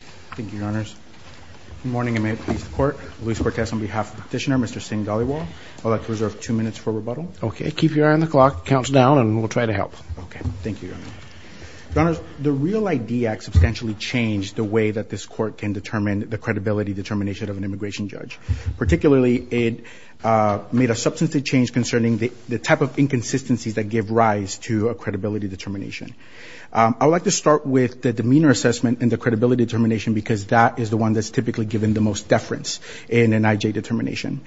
Thank you, Your Honours. Good morning, and may it please the Court. Luis Bortez on behalf of the Petitioner, Mr. Singh-Dhaliwal. I'd like to reserve two minutes for rebuttal. Okay, keep your eye on the clock. The count's down, and we'll try to help. Okay, thank you, Your Honours. Your Honours, the REAL ID Act substantially changed the way that this Court can determine the credibility determination of an immigration judge. Particularly, it made a substantive change concerning the type of inconsistencies that give rise to a credibility determination. I'd like to start with the demeanor assessment and the credibility determination, because that is the one that's typically given the most deference in an IJ determination.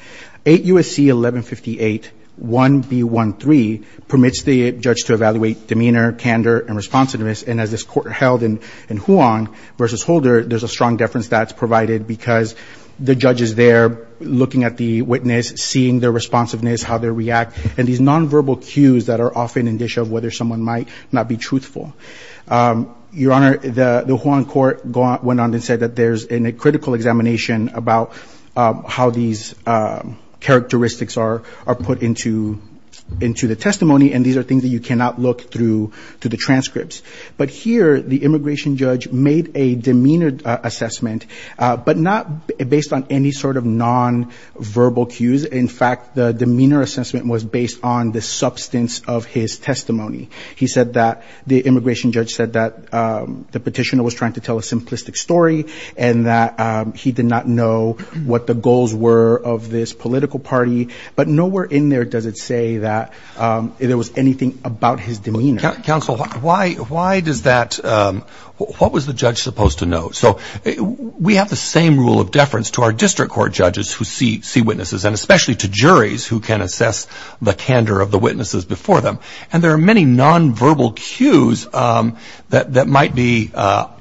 8 U.S.C. 1158 1B.1.3 permits the judge to evaluate demeanor, candor, and responsiveness, and as this Court held in Huang versus Holder, there's a strong deference that's provided because the judge is there looking at the witness, seeing their responsiveness, how they react, and these nonverbal cues that are often an issue of whether someone might not be truthful. Your Honour, the Huang Court went on and said that there's a critical examination about how these characteristics are put into the testimony, and these are things that you cannot look through to the transcripts. But here, the immigration judge made a demeanor assessment, but not based on any sort of nonverbal cues. In fact, the demeanor assessment was based on the substance of his testimony. He said that the immigration judge said that the petitioner was trying to tell a simplistic story and that he did not know what the goals were of this political party, but nowhere in there does it say that there was anything about his demeanor. Counsel, why does that... What was the judge supposed to know? So, we have the same rule of deference to our district court judges who see witnesses, and especially to juries who can assess the candor of the witnesses before them, and there are many nonverbal cues that might be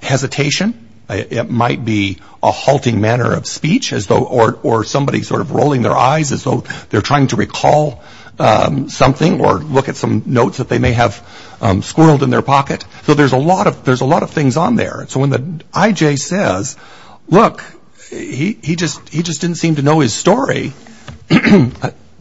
hesitation, it might be a halting manner of speech, or somebody sort of rolling their eyes as though they're trying to recall something, or look at some notes that they may have squirreled in their pocket. So, there's a lot of things on there. So, when the IJ says, look, he just didn't seem to know his story,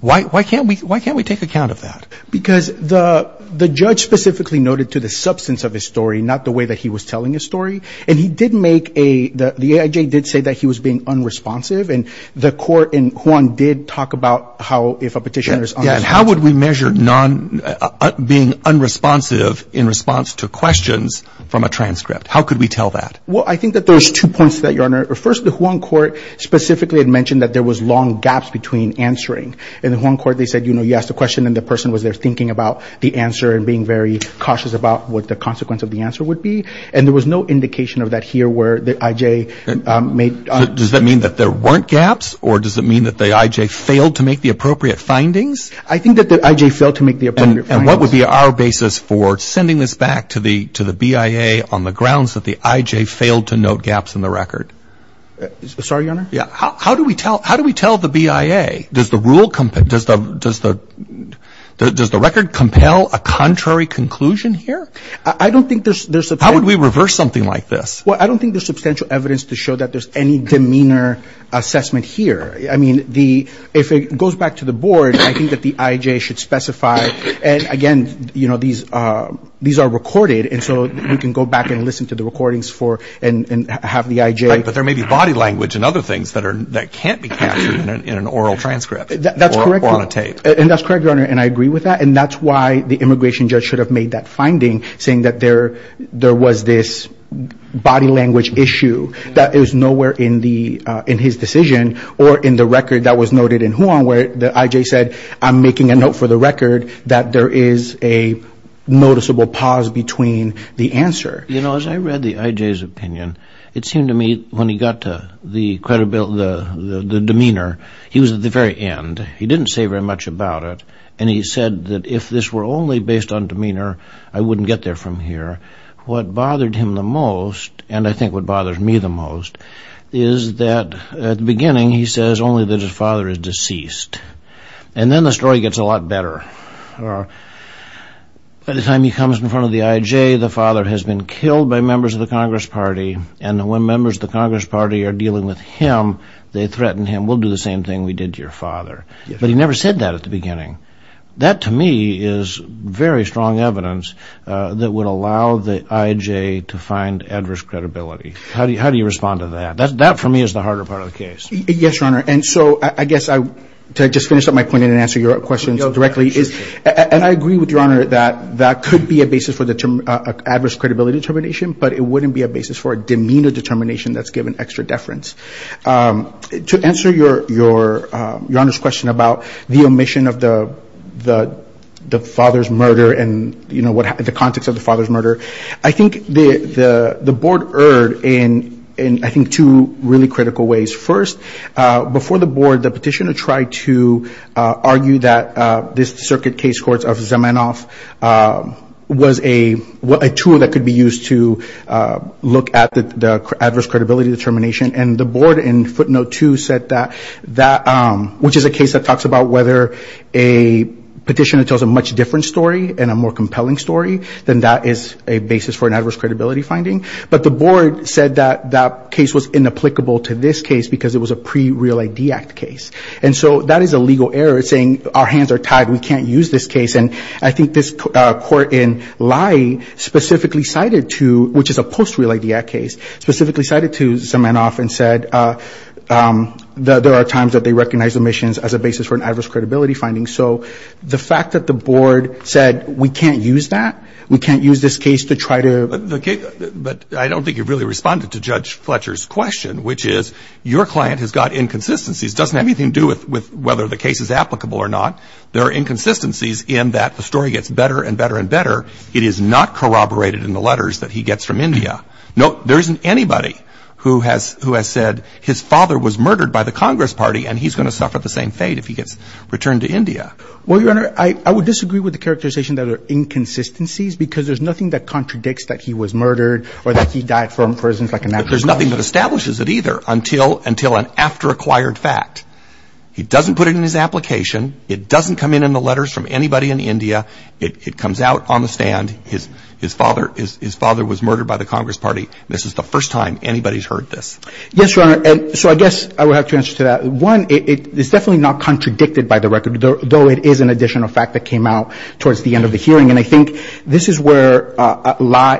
why can't we take account of that? Because the judge specifically noted to the substance of his story, not the way that he was telling his story, and he did make a... The IJ did say that he was being unresponsive, and the court in Juan did talk about how, if a petitioner is unresponsive... Yeah, and how would we measure being unresponsive in response to questions from a transcript? How could we tell that? Well, I think that there's two points to that, Your Honor. First, the Juan court specifically had mentioned that there was long gaps between answering. In the Juan court, they said, you know, you asked a question and the person was there thinking about the answer and being very cautious about what the consequence of the answer would be, and there was no indication of that here where the IJ made... Does that mean that there weren't gaps, or does it mean that the IJ failed to make the appropriate findings? I think that the IJ failed to make the appropriate findings. And what would be our basis for sending this back to the BIA on the grounds that the IJ failed to note gaps in the record? Sorry, Your Honor? Yeah, how do we tell the BIA? Does the rule... Does the record compel a contrary conclusion here? I don't think there's... How would we reverse something like this? Well, I don't think there's substantial evidence to show that there's any demeanor assessment here. I mean, if it goes back to the board, I think that the IJ should specify, and again, you know, these are recorded, and so we can go back and listen to the recordings and have the IJ... But there may be body language and other things that can't be captured in an oral transcript or on a tape. And that's correct, Your Honor, and I agree with that, and that's why the immigration judge should have made that finding, saying that there was this body language issue that is nowhere in his decision or in the record that was noted in Huang, where the IJ said, I'm making a note for the record that there is a noticeable pause between the answer. You know, as I read the IJ's opinion, it seemed to me when he got to the credibility... the demeanor, he was at the very end. He didn't say very much about it, and he said that if this were only based on demeanor, I wouldn't get there from here. What bothered him the most, and I think what bothers me the most, is that at the beginning he says only that his father is deceased, and then the story gets a lot better. By the time he comes in front of the IJ, the father has been killed by members of the Congress Party, and when members of the Congress Party are dealing with him, they threaten him, we'll do the same thing we did to your father. But he never said that at the beginning. That, to me, is very strong evidence that would allow the IJ to find adverse credibility. How do you respond to that? That, for me, is the harder part of the case. Yes, Your Honor, and so, I guess, to just finish up my point and answer your questions directly, and I agree with Your Honor that that could be a basis for adverse credibility determination, but it wouldn't be a basis for a demeanor determination that's given extra deference. To answer Your Honor's question about the omission of the father's murder, and the context of the father's murder, I think the Board erred in, I think, two really critical ways. First, before the Board, the petitioner tried to argue that this circuit case court of Zamenhof was a tool that could be used to look at the adverse credibility determination, and the Board, in footnote two, said that, which is a case that talks about whether a petitioner tells a much different story and a more compelling story, then that is a basis for an adverse credibility finding. But the Board said that that case was inapplicable to this case because it was a pre-Real ID Act case. And so, that is a legal error, saying, our hands are tied, we can't use this case. And I think this court in Lai specifically cited to, which is a post-Real ID Act case, specifically cited to Zamenhof and said that there are times that they recognize omissions as a basis for an adverse credibility finding. So, the fact that the Board said, we can't use that, we can't use this case to try to... But I don't think you really responded to Judge Fletcher's question, which is, your client has got inconsistencies. It doesn't have anything to do with whether the case is applicable or not. There are inconsistencies in that the story gets better and better and better. It is not corroborated in the letters that he gets from India. No, there isn't anybody who has said his father was murdered by the Congress Party and he's going to suffer the same fate if he gets returned to India. Well, Your Honor, I would disagree with the characterization that there are inconsistencies because there's nothing that contradicts that he was murdered or that he died from, for instance, like a natural cause. But there's nothing that establishes it either until an after-acquired fact. He doesn't put it in his application. It doesn't come in in the letters from anybody in India. It comes out on the stand, his father was murdered by the Congress Party. This is the first time anybody's heard this. Yes, Your Honor. So, I guess I would have to answer to that. One, it's definitely not contradicted by the record, though it is an additional fact that came out towards the end of the hearing. And I think this is where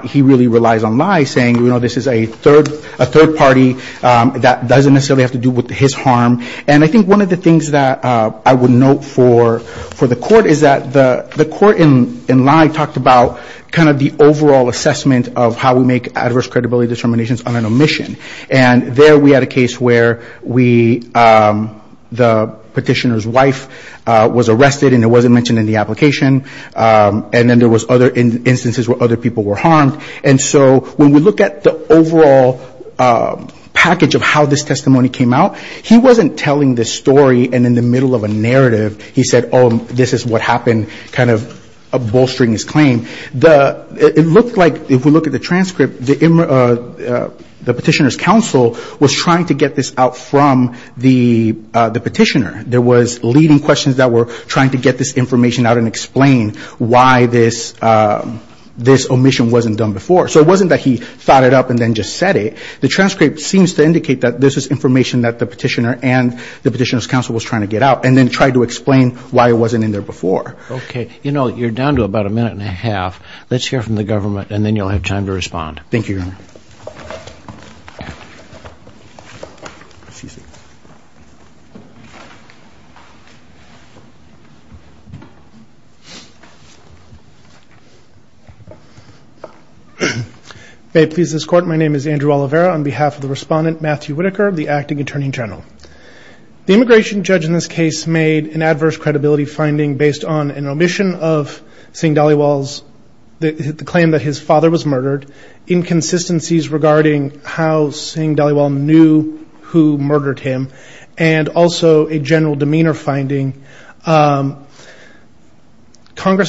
he really relies on Lye saying, you know, this is a third party that doesn't necessarily have to do with his harm. And I think one of the things that I would note for the court is that the court in Lye talked about kind of the overall assessment of how we make adverse credibility determinations on an omission. And there we had a case where the petitioner's wife was arrested and it wasn't mentioned in the application. And then there was other instances where other people were harmed. And so when we look at the overall package of how this testimony came out, he wasn't telling the story and in the middle of a narrative, he said, oh, this is what happened, kind of bolstering his claim. It looked like, if we look at the transcript, the petitioner's counsel was trying to get this out from the petitioner. There was leading questions that were trying to get this information out and explain why this omission wasn't done before. So it wasn't that he thought it up and then just said it. The transcript seems to indicate that this is information that the petitioner and the petitioner's counsel was trying to get out and then tried to explain why it wasn't in there before. Okay. You know, you're down to about a minute and a half. Let's hear from the government and then you'll have time to respond. Thank you, Your Honor. May it please this Court, my name is Andrew Oliveira. On behalf of the Respondent, Matthew Whitaker, the Acting Attorney General. The immigration judge in this case made an adverse credibility finding based on an omission of Singh Dhaliwal's claim that his father was murdered, inconsistencies regarding how Singh Dhaliwal knew who murdered him, and also a general demeanor finding. Congress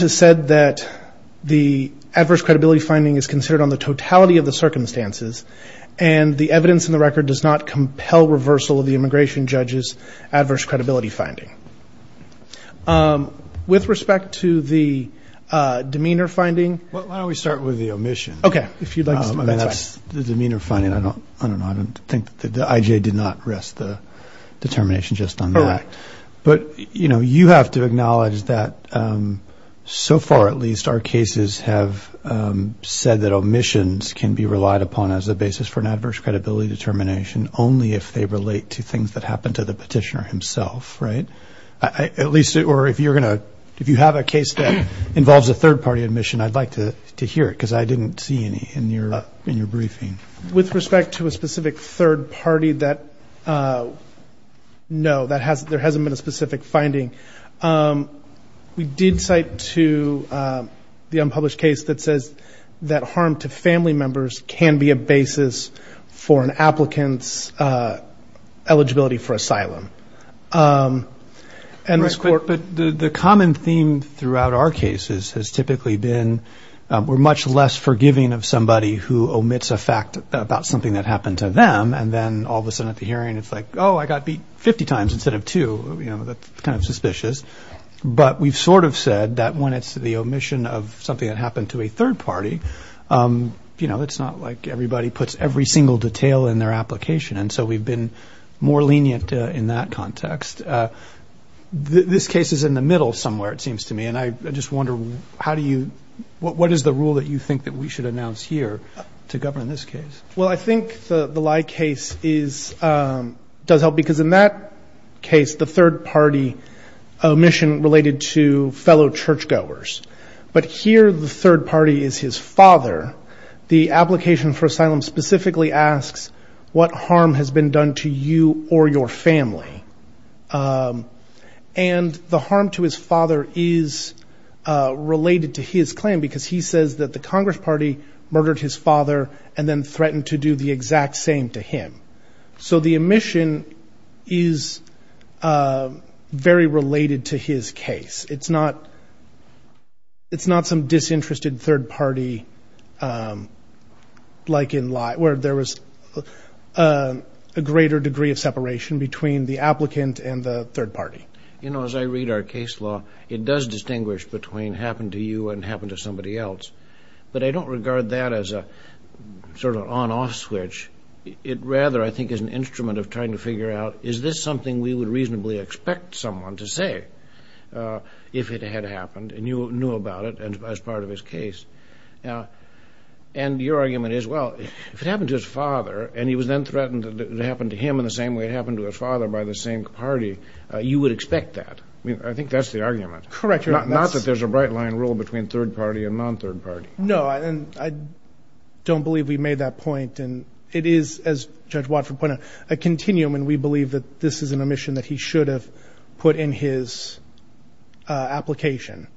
has said that the adverse credibility finding is considered on the totality of the circumstances and the evidence in the record does not compel reversal of the immigration judge's adverse credibility finding. With respect to the demeanor finding. Why don't we start with the omission. Okay. If you'd like to start. I mean, that's the demeanor finding. I don't know. I don't think that the IJ did not rest the determination just on that. Correct. But, you know, you have to acknowledge that so far, at least, our cases have said that omissions can be relied upon as a basis for an adverse credibility determination only if they relate to things that happened to the petitioner himself, right? At least, or if you're going to, if you have a case that involves a third-party omission, I'd like to hear it because I didn't see any in your briefing. With respect to a specific third party that, no, there hasn't been a specific finding. We did cite to the unpublished case that says that harm to family members can be a basis for an applicant's eligibility for asylum. But the common theme throughout our cases has typically been we're much less forgiving of somebody who omits a fact about something that happened to them, and then all of a sudden at the hearing it's like, oh, I got beat 50 times instead of two. You know, that's kind of suspicious. But we've sort of said that when it's the omission of something that happened to a third party, you know, it's not like everybody puts every single detail in their application, and so we've been more lenient in that context. This case is in the middle somewhere, it seems to me, and I just wonder how do you, what is the rule that you think that we should announce here to govern this case? Well, I think the lie case is, does help, because in that case the third party omission related to fellow churchgoers. But here the third party is his father. The application for asylum specifically asks what harm has been done to you or your family. And the harm to his father is related to his claim, because he says that the Congress Party murdered his father and then threatened to do the exact same to him. So the omission is very related to his case. It's not some disinterested third party like in lie, where there was a greater degree of separation between the applicant and the third party. You know, as I read our case law, it does distinguish between happened to you and happened to somebody else. But I don't regard that as a sort of on-off switch. It rather, I think, is an instrument of trying to figure out, is this something we would reasonably expect someone to say if it had happened, and you knew about it as part of his case. And your argument is, well, if it happened to his father, and he was then threatened to happen to him in the same way it happened to his father by the same party, you would expect that. I think that's the argument. Correct. Not that there's a bright line rule between third party and non-third party. No, and I don't believe we made that point. And it is, as Judge Watford pointed out, a continuum, and we believe that this is an omission that he should have put in his application.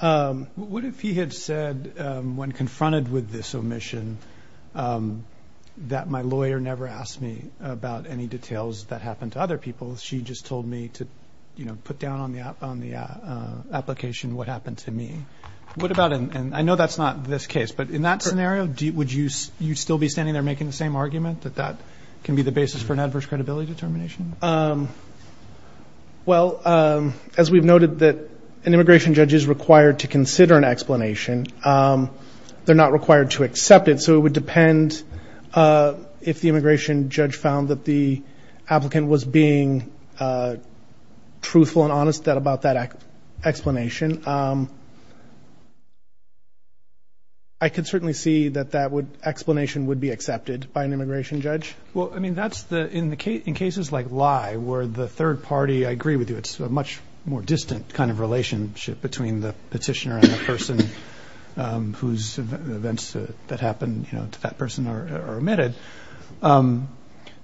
What if he had said, when confronted with this omission, that my lawyer never asked me about any details that happened to other people. She just told me to put down on the application what happened to me. What about, and I know that's not this case, but in that scenario, would you still be standing there making the same argument, that that can be the basis for an adverse credibility determination? Well, as we've noted, an immigration judge is required to consider an explanation. They're not required to accept it, so it would depend if the immigration judge found that the applicant was being truthful and honest about that explanation. I could certainly see that that explanation would be accepted by an immigration judge. Well, I mean, in cases like Lye, where the third party, I agree with you, it's a much more distant kind of relationship between the petitioner and the person whose events that happened to that person are omitted.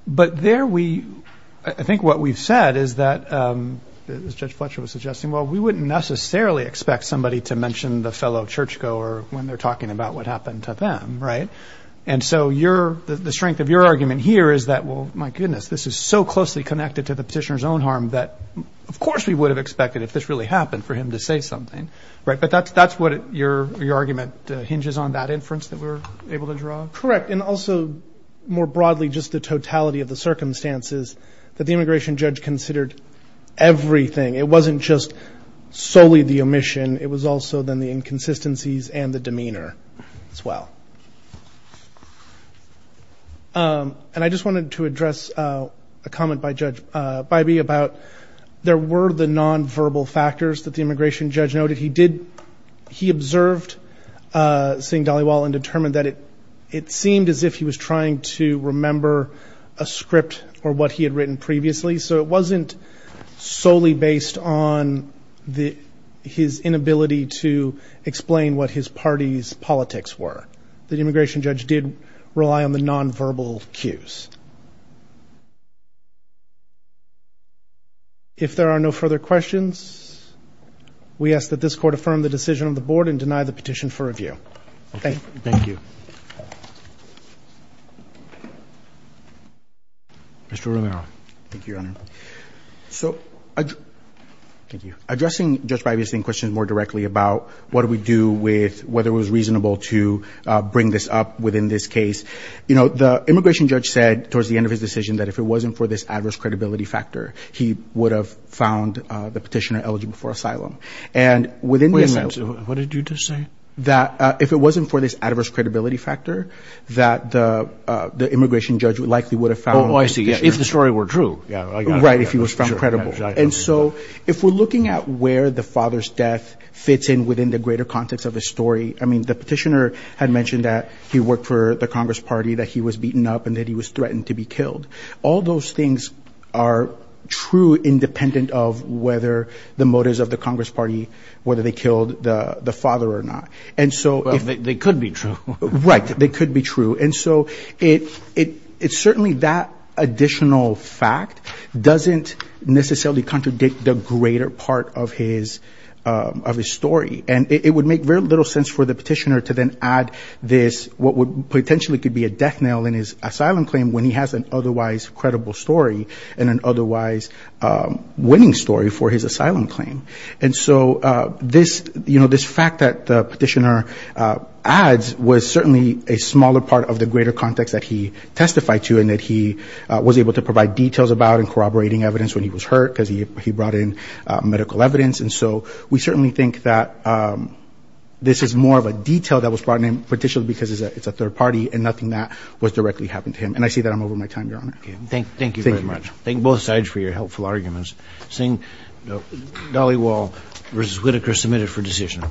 But there we, I think what we've said is that, as Judge Fletcher was suggesting, well, we wouldn't necessarily expect somebody to mention the fellow churchgoer when they're talking about what happened to them, right? And so the strength of your argument here is that, well, my goodness, this is so closely connected to the petitioner's own harm that, of course we would have expected, if this really happened, for him to say something. But that's what your argument hinges on, that inference that we're able to draw? Correct. And also, more broadly, just the totality of the circumstances that the immigration judge considered everything. It wasn't just solely the omission. It was also then the inconsistencies and the demeanor as well. And I just wanted to address a comment by Judge Bybee about there were the nonverbal factors that the immigration judge noted. He observed Singh Dhaliwal and determined that it seemed as if he was trying to remember a script or what he had written previously. So it wasn't solely based on his inability to explain what his party's politics were. The immigration judge did rely on the nonverbal cues. If there are no further questions, we ask that this court affirm the decision of the board and deny the petition for review. Thank you. Thank you. Mr. Orellano. Thank you, Your Honor. So addressing Judge Bybee's questions more directly about what do we do with whether it was reasonable to bring this up within this case. You know, the immigration judge said towards the end of his decision that if it wasn't for this adverse credibility factor, he would have found the petitioner eligible for asylum. What did you just say? That if it wasn't for this adverse credibility factor, that the immigration judge likely would have found the petitioner. Oh, I see. If the story were true. Right, if he was found credible. And so if we're looking at where the father's death fits in within the greater context of the story, I mean, the petitioner had mentioned that he worked for the Congress Party, that he was beaten up, and that he was threatened to be killed. All those things are true independent of whether the motives of the Congress Party, whether they killed the father or not. Well, they could be true. Right, they could be true. And so it's certainly that additional fact doesn't necessarily contradict the greater part of his story. And it would make very little sense for the petitioner to then add this, what would potentially could be a death knell in his asylum claim when he has an otherwise credible story and an otherwise winning story for his asylum claim. And so this, you know, this fact that the petitioner adds was certainly a smaller part of the greater context that he testified to and that he was able to provide details about and corroborating evidence when he was hurt, because he brought in medical evidence. And so we certainly think that this is more of a detail that was brought in particularly because it's a third party and nothing that was directly happened to him. And I say that I'm over my time, Your Honor. Thank you very much. Thank you both sides for your helpful arguments. Seeing no, Dolly Wall versus Whitaker submitted for decision.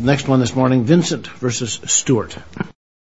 Next one this morning, Vincent versus Stewart.